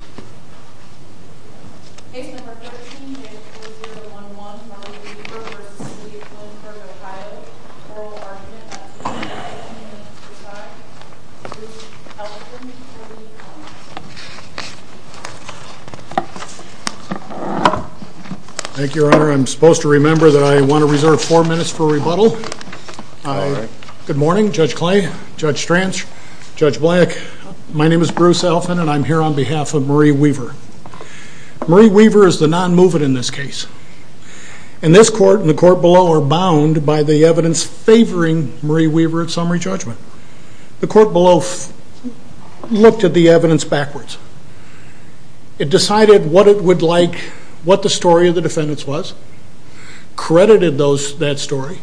oral argument at 3.15 minutes to try. Judge Elfin, please come to the podium. Thank you, Your Honor. I'm supposed to remember that I want to reserve four minutes for rebuttal. Good morning, Judge Clay, Judge Stranch, Judge Black. My name is Bruce Elfin and I'm here on behalf of Marie Weaver. Marie Weaver is the non-movement in this case. And this court and the court below are bound by the evidence favoring Marie Weaver's summary judgment. The court below looked at the evidence backwards. It decided what it would like, what the story of the defendants was, credited that story,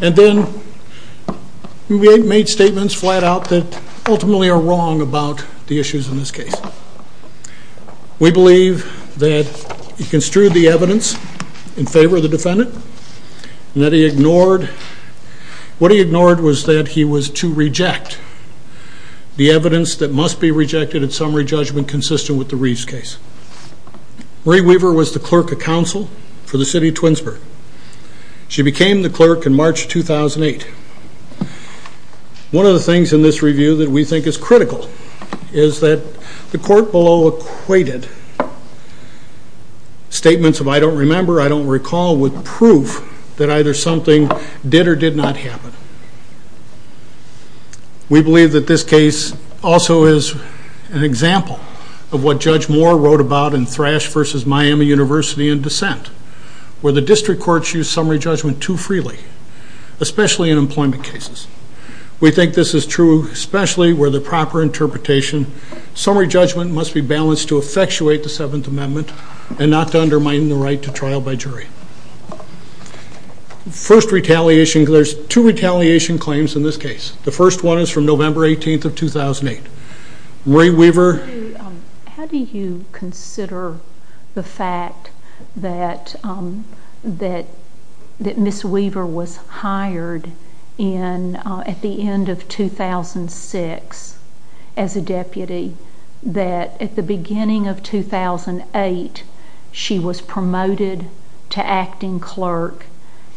and then made statements flat out that ultimately are wrong about the issues in this case. We believe that he construed the evidence in favor of the defendant and that he ignored, what he ignored was that he was to reject the evidence that must be rejected in summary judgment consistent with the Reeves case. Marie Weaver was the clerk of counsel for the City of Twinsburg. She became the clerk in March 2008. One of the things in this review that we think is critical is that the court below equated statements of I don't remember, I don't recall with proof that either something did or did not happen. We believe that this case also is an example of what Judge Moore wrote about in Thrash v. Miami University in Dissent, where the district courts use summary judgment too freely, especially in employment cases. We think this is true especially where the proper interpretation summary judgment must be balanced to effectuate the Seventh Amendment and not to undermine the right to trial by jury. First retaliation, there's two retaliation claims in this case. The first one is from November 18th of 2008. Marie Weaver? How do you consider the fact that Ms. Weaver was hired at the end of 2006 as a deputy, that at the beginning of 2008 she was promoted to acting clerk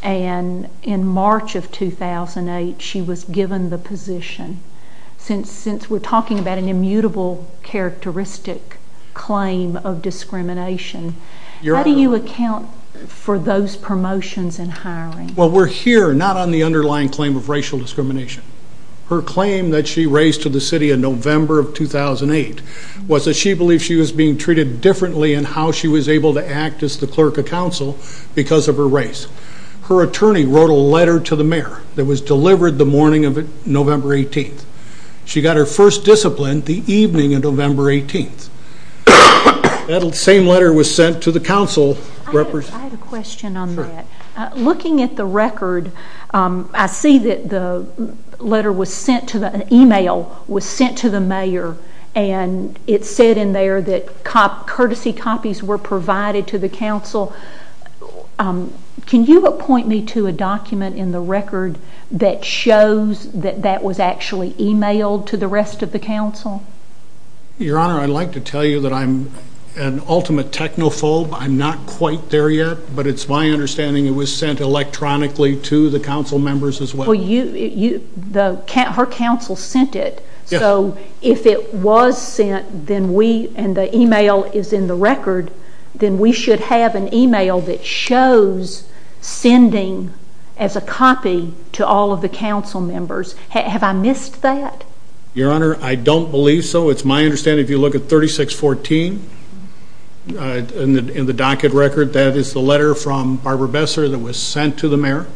and in March of 2008 she was given the position? Since we're talking about an immutable characteristic claim of discrimination, how do you account for those promotions and hiring? Well we're here not on the underlying claim of racial discrimination. Her claim that she raised to the city in November of 2008 was that she believed she was being treated differently in how she was able to act as the clerk of council because of her race. Her attorney wrote a letter to the mayor that was delivered the morning of November 18th. She got her first discipline the evening of November 18th. That same letter was sent to the council. I have a question on that. Looking at the record, I see that an email was sent to the mayor and it said in there that courtesy copies were provided to the council. Can you appoint me to a document in the record that shows that that was actually emailed to the rest of the council? Your Honor, I'd like to tell you that I'm an ultimate technophobe. I'm not quite there yet, but it's my understanding it was sent electronically to the council members as well. Her council sent it, so if it was sent and the email is in the record, then we should have an email that shows sending as a copy to all of the council members. Have I missed that? Your Honor, I don't believe so. It's my understanding if you look at 3614 in the docket record, that is the letter from Barbara Besser that was sent to the mayor.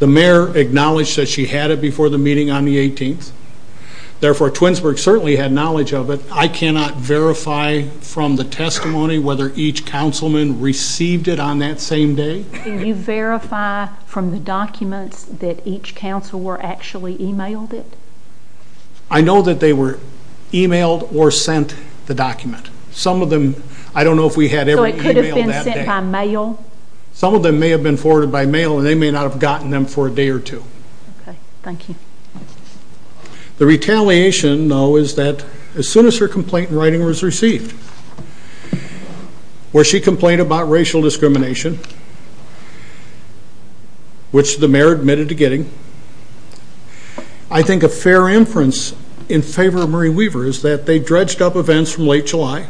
The mayor acknowledged that she had it before the meeting on the 18th. Therefore, Twinsburg certainly had knowledge of it. I cannot verify from the testimony whether each councilman received it on that same day. Can you verify from the documents that each council were actually emailed it? I know that they were emailed or sent the document. Some of them, I don't know if we had ever emailed that day. So it could have been sent by mail? Some of them may have been forwarded by mail and they may not have gotten them for a day or two. Okay, thank you. The retaliation, though, is that as soon as her complaint in writing was received, where she complained about racial discrimination, which the mayor admitted to getting, I think a fair inference in favor of Marie Weaver is that they dredged up events from late July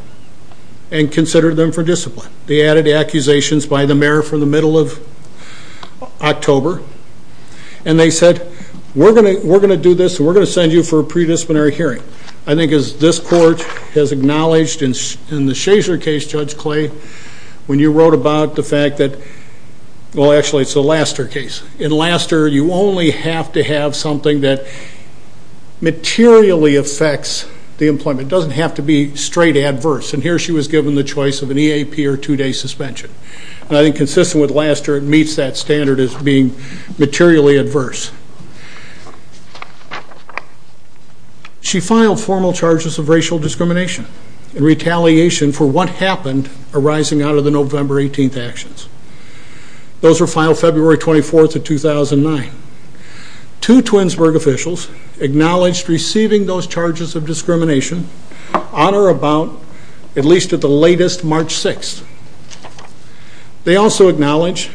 and considered them for discipline. They added accusations by the mayor from the middle of the month. We're going to send you for a pre-disciplinary hearing. I think as this court has acknowledged in the Schaefer case, Judge Clay, when you wrote about the fact that, well actually it's the Laster case. In Laster, you only have to have something that materially affects the employment. It doesn't have to be straight adverse. And here she was given the choice of an EAP or two-day suspension. I think consistent with Laster, it meets that standard as being materially adverse. She filed formal charges of racial discrimination in retaliation for what happened arising out of the November 18th actions. Those were filed February 24th of 2009. Two Twinsburg officials acknowledged receiving those charges of discrimination on or about, at least at the latest, March 6th. They also acknowledged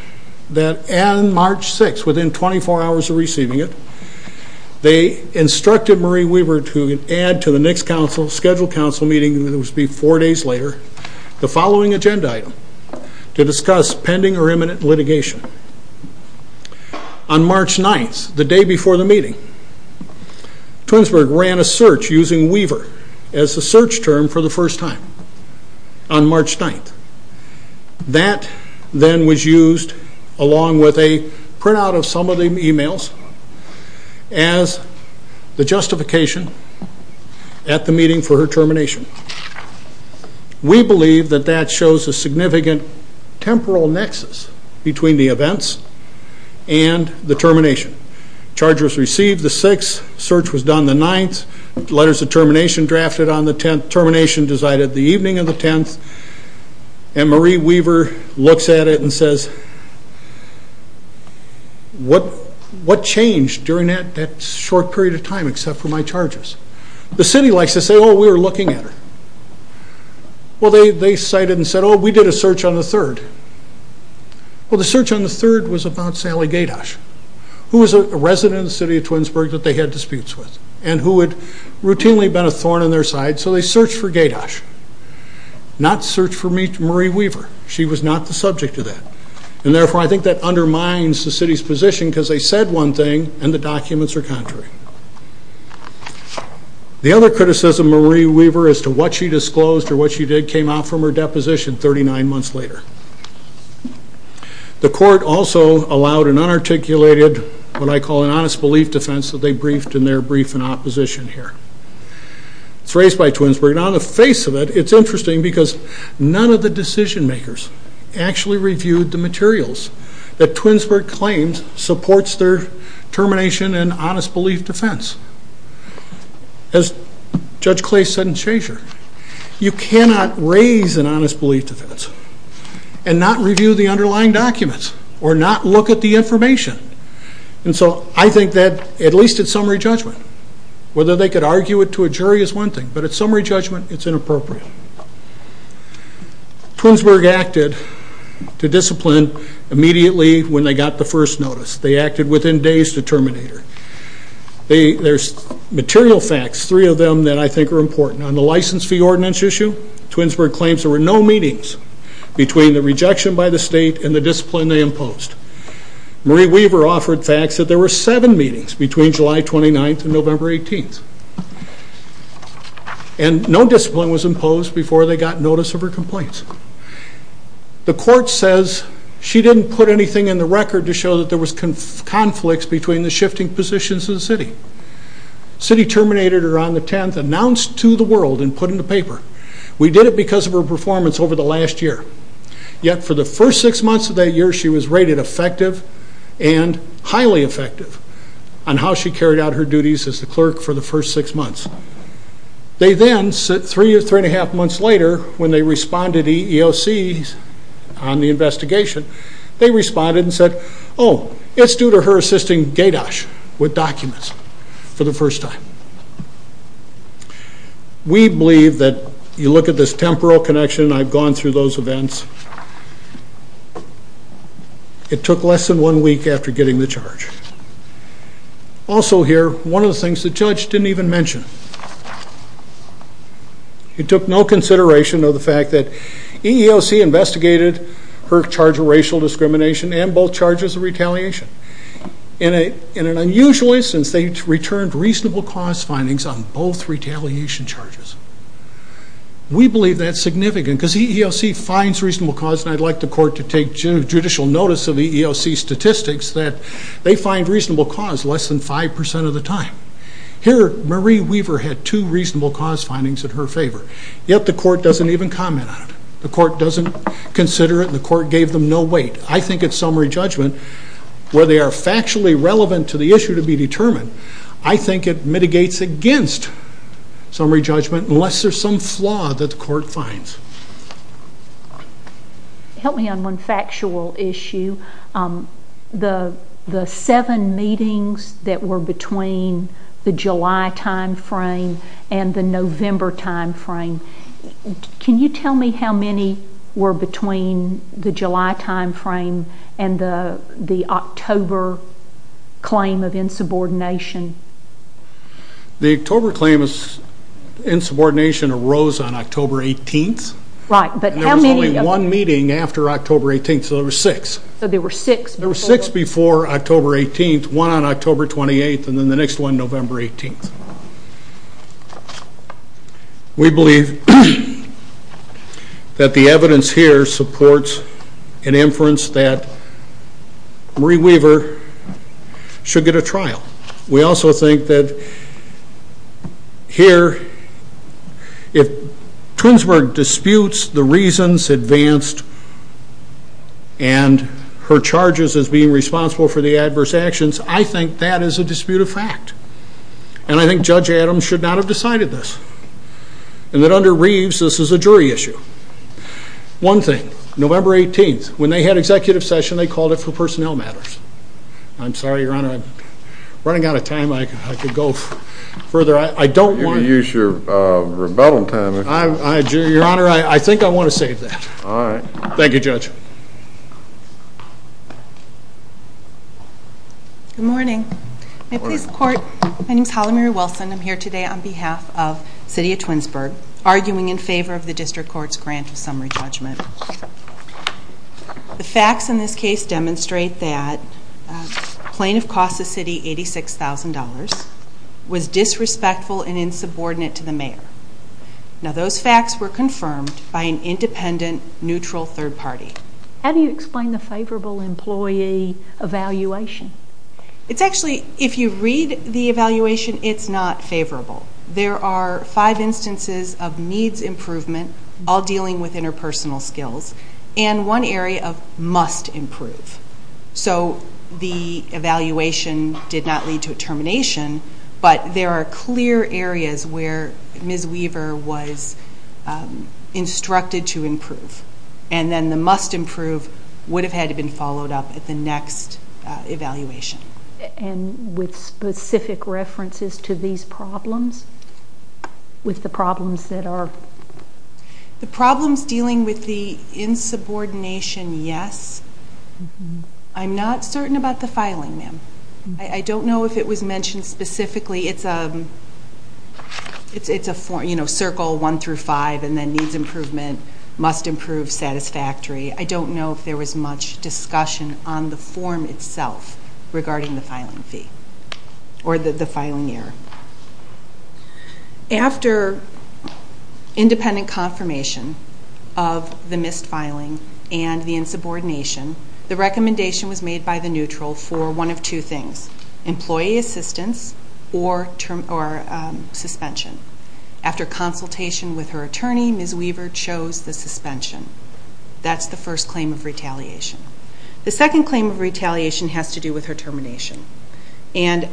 that on March 6th, within 24 hours of receiving it, the instructed Marie Weaver to add to the next scheduled council meeting that was to be four days later, the following agenda item, to discuss pending or imminent litigation. On March 9th, the day before the meeting, Twinsburg ran a search using Weaver as the search term for the first time on March 9th. That then was used, along with a printout of some of the emails, as the justification at the meeting for her termination. We believe that that shows a significant temporal nexus between the events and the termination. Charges received the 6th, search was done the 9th, letters of termination drafted on the 10th, termination decided the evening of the 10th, and Marie Weaver looks at it and says, what changed during that short period of time except for my charges? The city likes to say, oh, we were looking at her. Well, they cited and said, oh, we did a search on the 3rd. Well, the search on the 3rd was about Sally Gaydosh, who was a resident of the city of Twinsburg that they had disputes with, and who had routinely been a thorn in their side. So they searched for Gaydosh, not searched for Marie Weaver. She was not the subject of that, and therefore I think that undermines the city's position because they said one thing, and the documents are contrary. The other criticism of Marie Weaver as to what she disclosed or what she did came out from her deposition 39 months later. The court also allowed an unarticulated, what I call an honest belief defense that they briefed in opposition here. It's raised by Twinsburg, and on the face of it, it's interesting because none of the decision makers actually reviewed the materials that Twinsburg claims supports their termination and honest belief defense. As Judge Clay said in Shazer, you cannot raise an honest belief defense and not review the underlying documents or not look at the information. And so I think that, at least at summary judgment, whether they could argue it to a jury is one thing, but at summary judgment, it's inappropriate. Twinsburg acted to discipline immediately when they got the first notice. They acted within days to terminate her. There's material facts, three of them that I think are important. On the license fee ordinance issue, Twinsburg claims there were no meetings between the rejection by the state and the discipline they imposed. Marie Weaver offered facts that there were seven meetings between July 29th and November 18th, and no discipline was imposed before they got notice of her complaints. The court says she didn't put anything in the record to show that there was conflicts between the shifting positions of the city. City terminated her on the 10th, announced to the world, and put in the paper, we did it because of her performance over the last year. Yet for the first six months of that year, she was rated effective and highly effective on how she carried out her duties as the clerk for the first six months. They then, three and a half months later, when they responded to the EEOC on the investigation, they responded and said, oh, it's due to her assisting GADOSH with documents for the first time. We believe that, you look at this temporal connection, I've gone through those events, it took less than one week after getting the charge. Also here, one of the things the judge didn't even mention, it took no consideration of the fact that EEOC investigated her charge of racial discrimination and both charges of retaliation. In an unusually, since they returned reasonable cause findings on both retaliation charges. We believe that's significant because EEOC finds reasonable cause and I'd like the court to take judicial notice of the EEOC statistics that they find reasonable cause less than five percent of the time. Here, Marie Weaver had two reasonable cause findings in her favor, yet the court doesn't even comment on it. The court doesn't consider it and the court gave them no weight. I think it's summary judgment, where they are factually relevant to the issue to be determined. I think it mitigates against summary judgment unless there's some flaw that the court finds. Help me on one factual issue. The seven meetings that were between the July time frame and the November time frame, can you tell me how many were between the July time frame and the October claim of insubordination? The October claim of insubordination arose on October 18th. Right, but how many? There was only one meeting after October 18th, so there were six. So there were six before? There were six before October 18th, one on October 28th, and then the next one November 18th. We believe that the evidence here supports an inference that Marie Weaver should get a trial. We also think that here, if Twinsburg disputes the reasons advanced and her charges as being responsible for the adverse actions, I think that is a disputed fact and I think Judge Adams should not have decided this. And that under Reeves, this is a jury issue. One thing, November 18th, when they had executive session, they called it for personnel matters. I'm sorry, Your Honor, I'm running out of time. I could go further. I don't want to use your rebuttal time. Your Honor, I think I want to save that. All right. Thank you, Judge. Good morning. May it please the court, my name is Cynthia Twinsburg, arguing in favor of the district court's grant of summary judgment. The facts in this case demonstrate that plaintiff cost the city $86,000, was disrespectful and insubordinate to the mayor. Now those facts were confirmed by an independent, neutral third party. How do you explain the favorable employee evaluation? It's actually, if you read the five instances of needs improvement, all dealing with interpersonal skills, and one area of must improve. So the evaluation did not lead to a termination, but there are clear areas where Ms. Weaver was instructed to improve. And then the must improve would have had to been followed up at the next evaluation. And with specific references to these problems? With the problems that are... The problems dealing with the insubordination, yes. I'm not certain about the filing, ma'am. I don't know if it was mentioned specifically. It's a circle one through five, and then needs improvement, must improve satisfactory. I don't know if it's on the form itself regarding the filing fee, or the filing year. After independent confirmation of the missed filing and the insubordination, the recommendation was made by the neutral for one of two things, employee assistance or suspension. After consultation with her attorney, Ms. Weaver chose the suspension. That's the first claim of retaliation has to do with her termination. And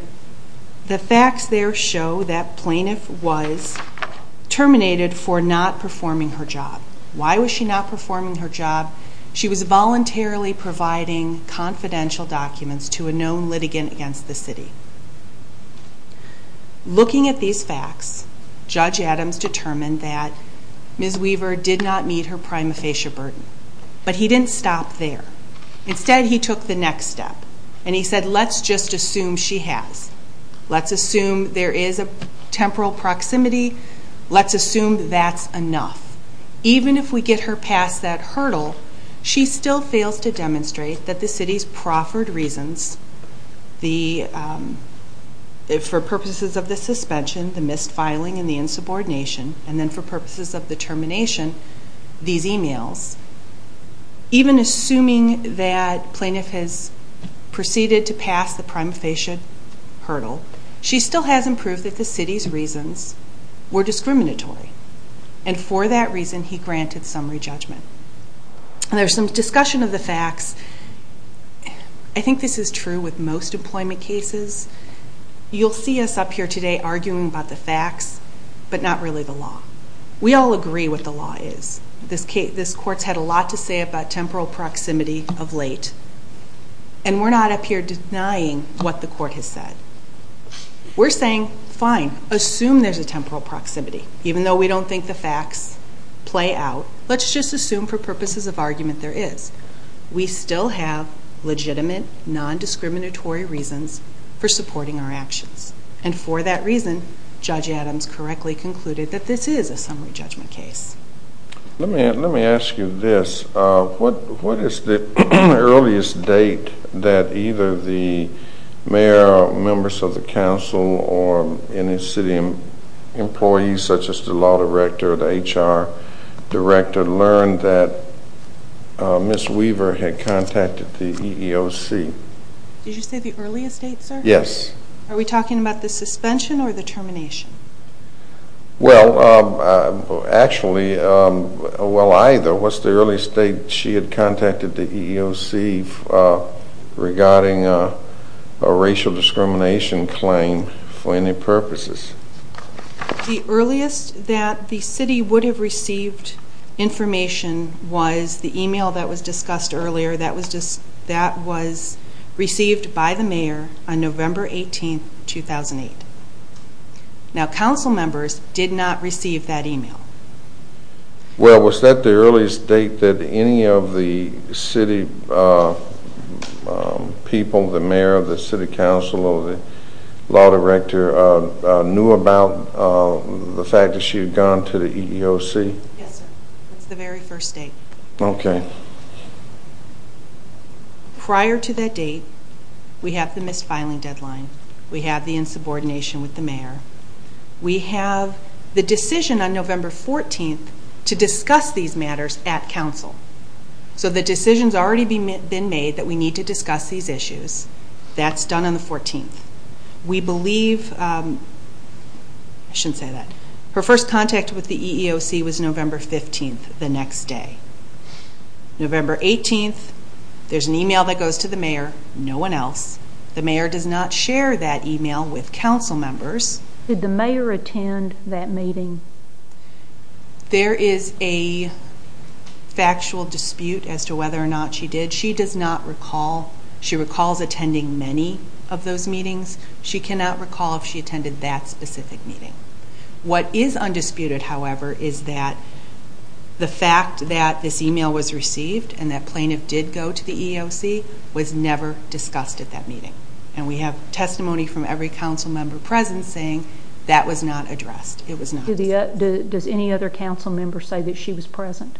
the facts there show that plaintiff was terminated for not performing her job. Why was she not performing her job? She was voluntarily providing confidential documents to a known litigant against the city. Looking at these facts, Judge Adams determined that Ms. Weaver did not meet her prima facie burden. But he didn't stop there. Instead, he took the next step. And he said, let's just assume she has. Let's assume there is a temporal proximity. Let's assume that's enough. Even if we get her past that hurdle, she still fails to demonstrate that the city's proffered reasons, for purposes of the suspension, the missed filing and the insubordination, and then for purposes of termination, these emails. Even assuming that plaintiff has proceeded to pass the prima facie hurdle, she still hasn't proved that the city's reasons were discriminatory. And for that reason, he granted summary judgment. And there's some discussion of the facts. I think this is true with most employment cases. You'll see us up here today arguing about the facts, but not really the law is. This court's had a lot to say about temporal proximity of late, and we're not up here denying what the court has said. We're saying, fine, assume there's a temporal proximity. Even though we don't think the facts play out, let's just assume for purposes of argument there is. We still have legitimate, non-discriminatory reasons for supporting our actions. And for that reason, Judge Adams correctly concluded that this is a summary judgment case. Let me ask you this. What is the earliest date that either the mayor or members of the council or any city employees, such as the law director or the HR director, learned that Ms. Weaver had contacted the EEOC? Did you say the earliest date, sir? Yes. Are we talking about the suspension or the termination? Well, actually, well either. What's the earliest date she had contacted the EEOC regarding a racial discrimination claim for any purposes? The earliest that the city would have received information was the email that was discussed in 2008. Now, council members did not receive that email. Well, was that the earliest date that any of the city people, the mayor, the city council, or the law director knew about the fact that she had gone to the EEOC? Yes, sir. That's the very first date. Okay. Prior to that date, we have the misfiling deadline. We have the insubordination with the mayor. We have the decision on November 14th to discuss these matters at council. So the decision's already been made that we need to discuss these issues. That's done on the 14th. We believe, I shouldn't say that, her first contact with the EEOC was November 15th, the next day. November 18th, there's an email that goes to the mayor, no one else. The mayor does not share that email with council members. Did the mayor attend that meeting? There is a factual dispute as to whether or not she did. She does not recall. She recalls attending many of those meetings. She cannot recall if she attended that specific meeting. What is undisputed, however, is that the fact that this email was received, and that plaintiff did go to the EEOC, was never discussed at that meeting. And we have testimony from every council member present saying that was not addressed. It was not. Does any other council member say that she was present?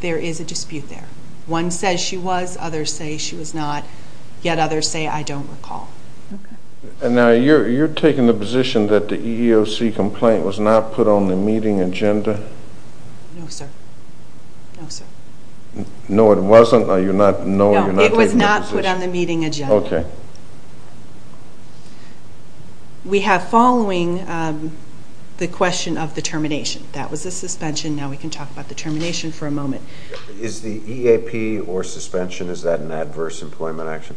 There is a dispute there. One says she was, others say she was not, yet others say, don't recall. And now you're taking the position that the EEOC complaint was not put on the meeting agenda? No, sir. No, it wasn't? No, it was not put on the meeting agenda. We have following the question of the termination. That was the suspension, now we can talk about the termination for a moment. Is the EAP or suspension, is that an adverse employment action?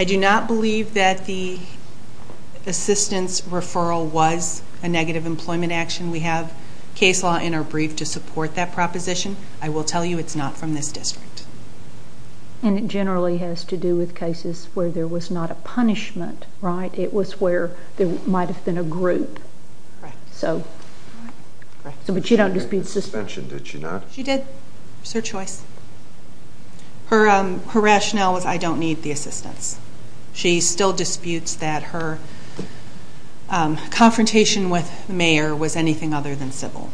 I do not believe that the assistance referral was a negative employment action. We have case law in our brief to support that proposition. I will tell you it's not from this district. And it generally has to do with cases where there was not a punishment, right? It was where there might have been a group. Correct. But she her rationale was I don't need the assistance. She still disputes that her confrontation with the mayor was anything other than civil.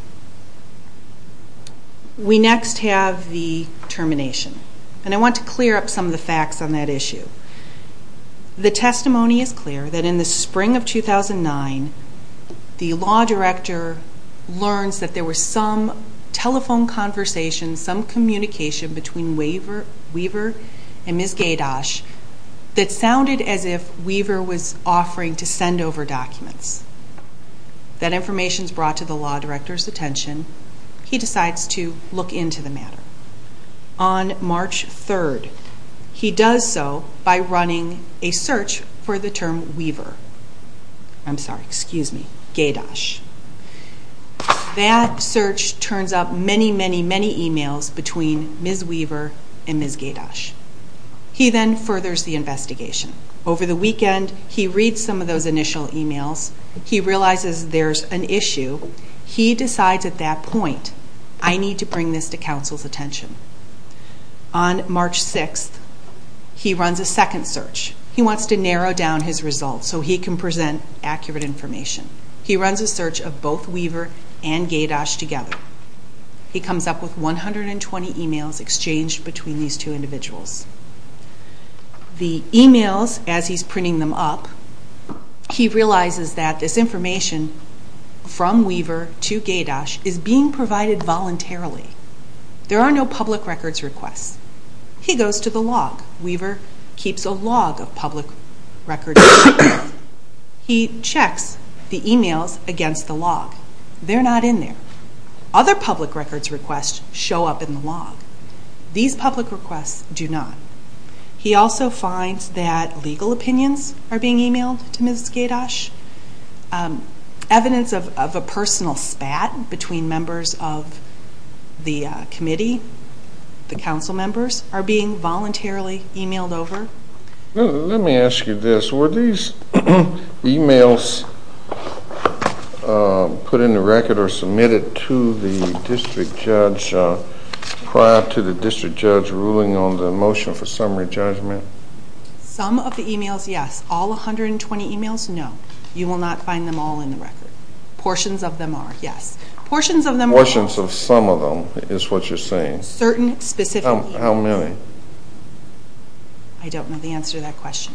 We next have the termination. And I want to clear up some of the facts on that issue. The testimony is clear that in the spring of 2009, the law director learns that there some telephone conversation, some communication between Weaver and Ms. Gaydosh that sounded as if Weaver was offering to send over documents. That information is brought to the law director's attention. He decides to look into the matter. On March 3rd, he does so by running a search for the term Weaver. I'm sorry, excuse me, Gaydosh. That search turns up many, many, many emails between Ms. Weaver and Ms. Gaydosh. He then furthers the investigation. Over the weekend, he reads some of those initial emails. He realizes there's an issue. He decides at that point, I need to bring this to council's attention. On March 6th, he runs a second search. He wants to narrow down his results so he can present accurate information. He runs a search of both Weaver and Gaydosh together. He comes up with 120 emails exchanged between these two individuals. The emails, as he's printing them up, he realizes that this information from Weaver to Gaydosh is being provided voluntarily. There are no public records requests. He goes to the log. Weaver keeps a log of public records requests. He checks the emails against the log. They're not in there. Other public records requests show up in the log. These public requests do not. He also finds that legal opinions are being emailed to Ms. Gaydosh, evidence of a personal spat between members of the committee, the council members are being voluntarily emailed over. Let me ask you this. Were these emails put in the record or submitted to the district judge prior to the district judge ruling on the motion for summary judgment? Some of the emails, yes. All 120 emails, no. You will not find them all in the record. Portions of them are, yes. Portions of some of them is what you're saying? Certain specific emails. How many? I don't know the answer to that question.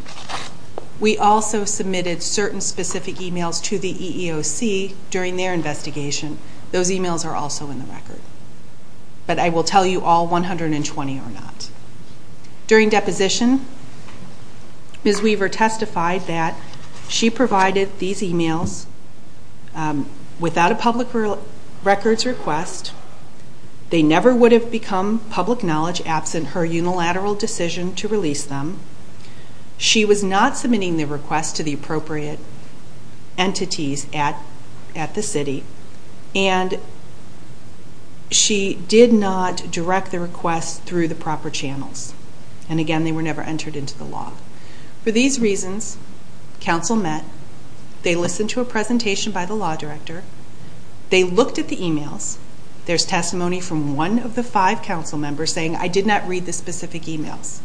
We also submitted certain specific emails to the EEOC during their investigation. Those emails are also in the record, but I will tell you all 120 are not. During deposition, Ms. Weaver testified that she without a public records request, they never would have become public knowledge absent her unilateral decision to release them. She was not submitting the request to the appropriate entities at the city, and she did not direct the request through the proper channels. And again, they were never entered into the log. For these reasons, council met. They listened to a presentation by the law director. They looked at the emails. There's testimony from one of the five council members saying, I did not read the specific emails.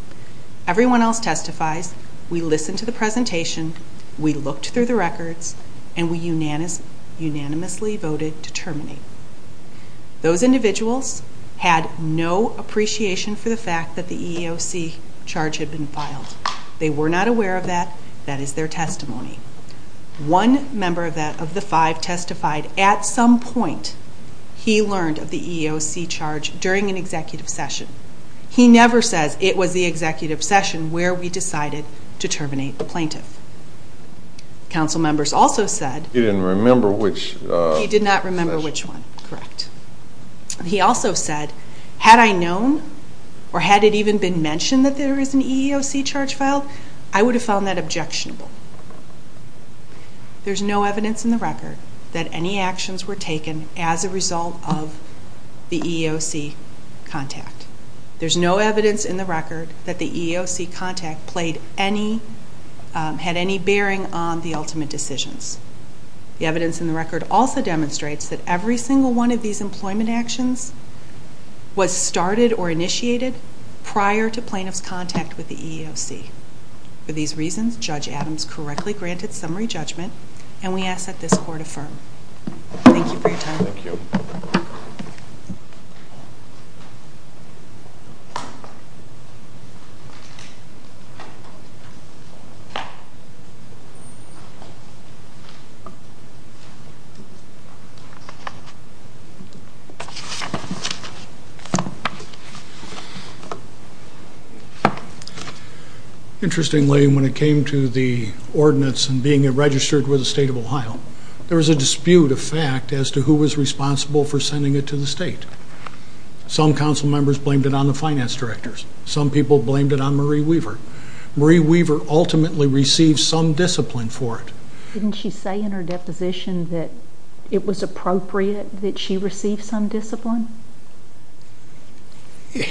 Everyone else testifies. We listened to the presentation. We looked through the records, and we unanimously voted to terminate. Those individuals had no appreciation for the fact the EEOC charge had been filed. They were not aware of that. That is their testimony. One member of the five testified at some point he learned of the EEOC charge during an executive session. He never says it was the executive session where we decided to terminate the plaintiff. Council members also said... He didn't remember which... that there is an EEOC charge filed. I would have found that objectionable. There's no evidence in the record that any actions were taken as a result of the EEOC contact. There's no evidence in the record that the EEOC contact had any bearing on the ultimate decisions. The evidence in the record also demonstrates that every single one of these prior to plaintiff's contact with the EEOC. For these reasons, Judge Adams correctly granted summary judgment, and we ask that this court affirm. Thank you for your time. Thank you. Interestingly, when it came to the ordinance and being registered with the state of Ohio, there was a dispute of fact as to who was responsible for sending it to the state. Some council members blamed it on the finance directors. Some people blamed it on Marie Weaver. Marie Weaver ultimately received some discipline for it. Didn't she say in her deposition that it was appropriate that she receive some discipline?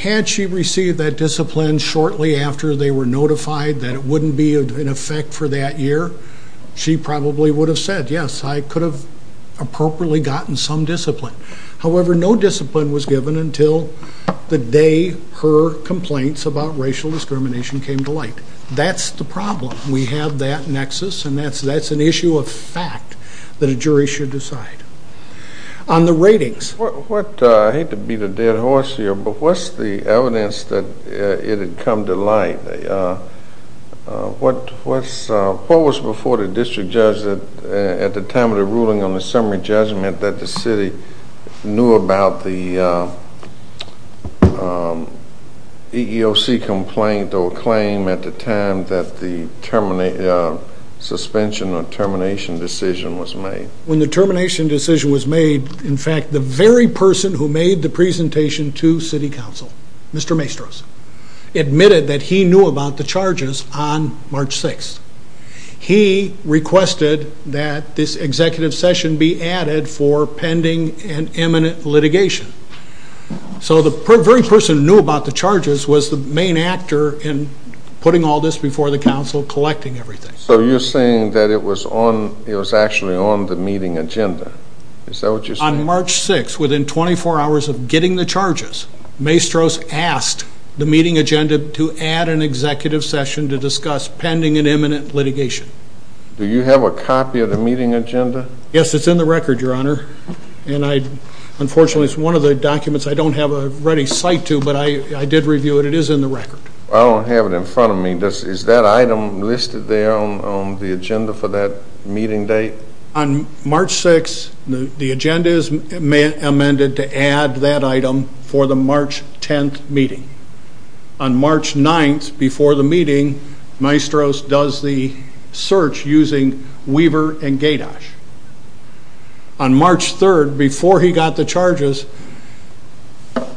Had she received that discipline shortly after they were notified that it wouldn't be of an effect for that year, she probably would have said, yes, I could have appropriately gotten some discipline. However, no discipline was given until the day her complaints about racial discrimination came to light. That's the problem. We have that nexus, and that's an issue of fact that a jury should decide. On the ratings. I hate to beat a dead horse here, but what's the evidence that it had come to light? What was before the district judge at the time of the ruling on the summary judgment that the city knew about the EEOC complaint or claim at the time that the suspension or termination decision was made? When the termination decision was made, in fact, the very person who made the presentation to city council, Mr. Maestros, admitted that he knew about the charges on March 6th. He requested that this executive session be added for pending and imminent litigation. So the very person who knew about the charges was the main actor in putting all this before the council, collecting everything. So you're saying that it was actually on the meeting agenda. Is that what you're saying? On March 6th, within 24 hours of getting the charges, Maestros asked the meeting agenda to add an executive session to discuss pending and imminent litigation. Do you have a copy of the meeting agenda? Yes, it's in the record, Your Honor, and unfortunately, it's one of the documents I don't have a ready cite to, but I did review it. It is in the record. I don't have it in front of me. Is that item listed there on the agenda for that meeting date? On March 6th, the agenda is amended to add that item for the March 10th meeting. On March 9th, before the meeting, Maestros does the search using Weaver and Gaydosh. On March 3rd, before he got the charges,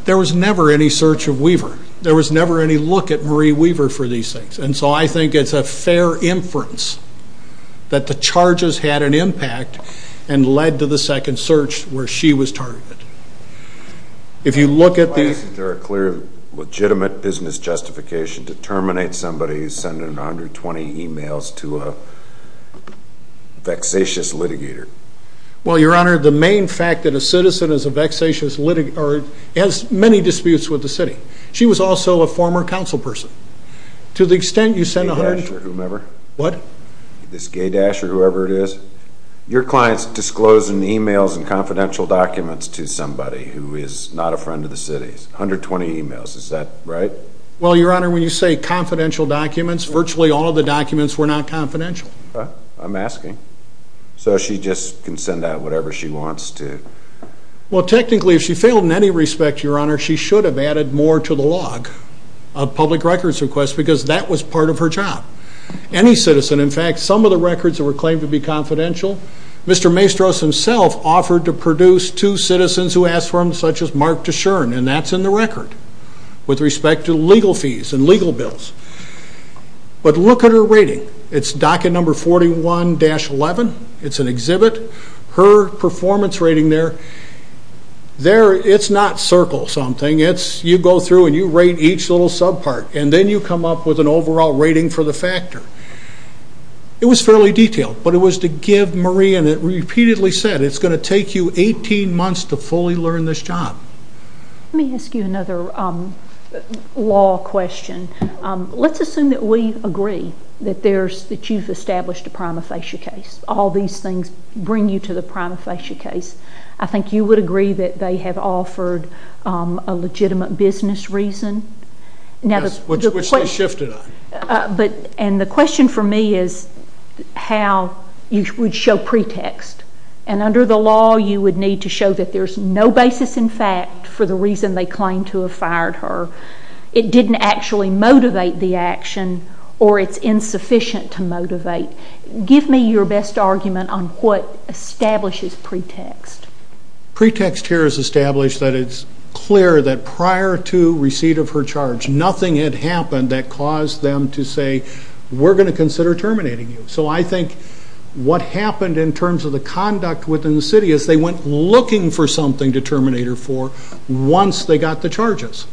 there was never any search of Weaver. There was never any look at Marie Weaver for these things. And so I think it's a fair inference that the charges had an impact and led to the second search where she was targeted. If you look at the... Why isn't there a clear, legitimate business justification to terminate somebody who's sending 120 emails to a vexatious litigator? Well, Your Honor, the main fact that a citizen is a vexatious litigator has many disputes with the city. She was also a former council person. To the extent you send... Gaydosh or whomever? What? This Gaydosh or whoever it is. Your client's disclosing emails and confidential documents to somebody who is not a friend of the city's. 120 emails. Is that right? Well, Your Honor, when you say confidential documents, virtually all of the documents were not confidential. Okay. I'm asking. So she just can send out whatever she wants to? Well, technically, if she failed in any respect, Your Honor, she should have added more to the log of public records requests because that was part of her job. Any citizen... In fact, some of the records that were claimed to be confidential, Mr. Maestros himself offered to produce two citizens who asked for them, such as Mark Deshern, and that's in the record with respect to legal fees and legal bills. But look at her rating. It's docket number 41-11. It's an exhibit. Her performance rating there, it's not circle something. It's you go through and you rate each little subpart, and then you come up with an overall rating for the factor. It was fairly detailed, but it was to give Maria, and it repeatedly said, it's going to take you 18 months to fully learn this job. Let me ask you another law question. Let's assume that we agree that you've established a prima facie case. All these things bring you to the prima facie case. I think you would agree that they have offered a legitimate business reason. Yes, which they shifted on. And the question for me is how you would show pretext. And under the law, you would need to show that there's no basis in fact for the reason they claim to have fired her. Give me your best argument on what establishes pretext. Pretext here is established that it's clear that prior to receipt of her charge, nothing had happened that caused them to say, we're going to consider terminating you. So I think what happened in terms of the conduct within the city is they went looking for something to terminate her for once they got the charges.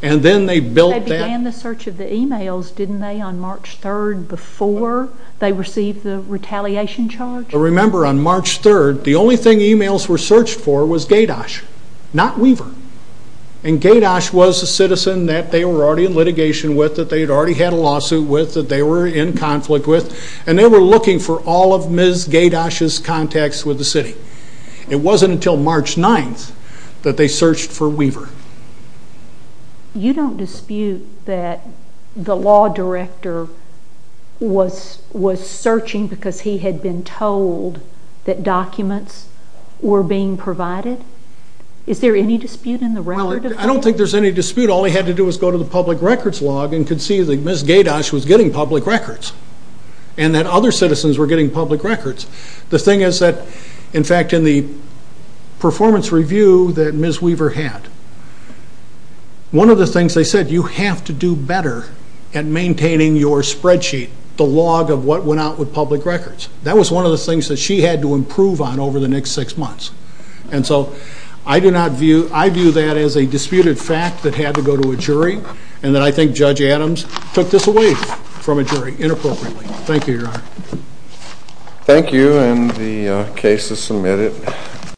And then they built that. They began the search of the emails, didn't they, on March 3rd before? They received the retaliation charge. I remember on March 3rd, the only thing emails were searched for was Gaydosh, not Weaver. And Gaydosh was a citizen that they were already in litigation with, that they had already had a lawsuit with, that they were in conflict with. And they were looking for all of Ms. Gaydosh's contacts with the city. It wasn't until March 9th that they searched for Weaver. You don't dispute that the law director was searching because he had been told that documents were being provided? Is there any dispute in the record? Well, I don't think there's any dispute. All he had to do was go to the public records log and could see that Ms. Gaydosh was getting public records and that other citizens were getting public records. The thing is that, in fact, in the performance review that Ms. Weaver had, one of the things they said, you have to do better at maintaining your spreadsheet, the log of what went out with public records. That was one of the things that she had to improve on over the next six months. And so I do not view, I view that as a disputed fact that had to go to a jury and that I think Judge Adams took this away from a jury inappropriately. Thank you, Your Honor. Thank you and the case is submitted.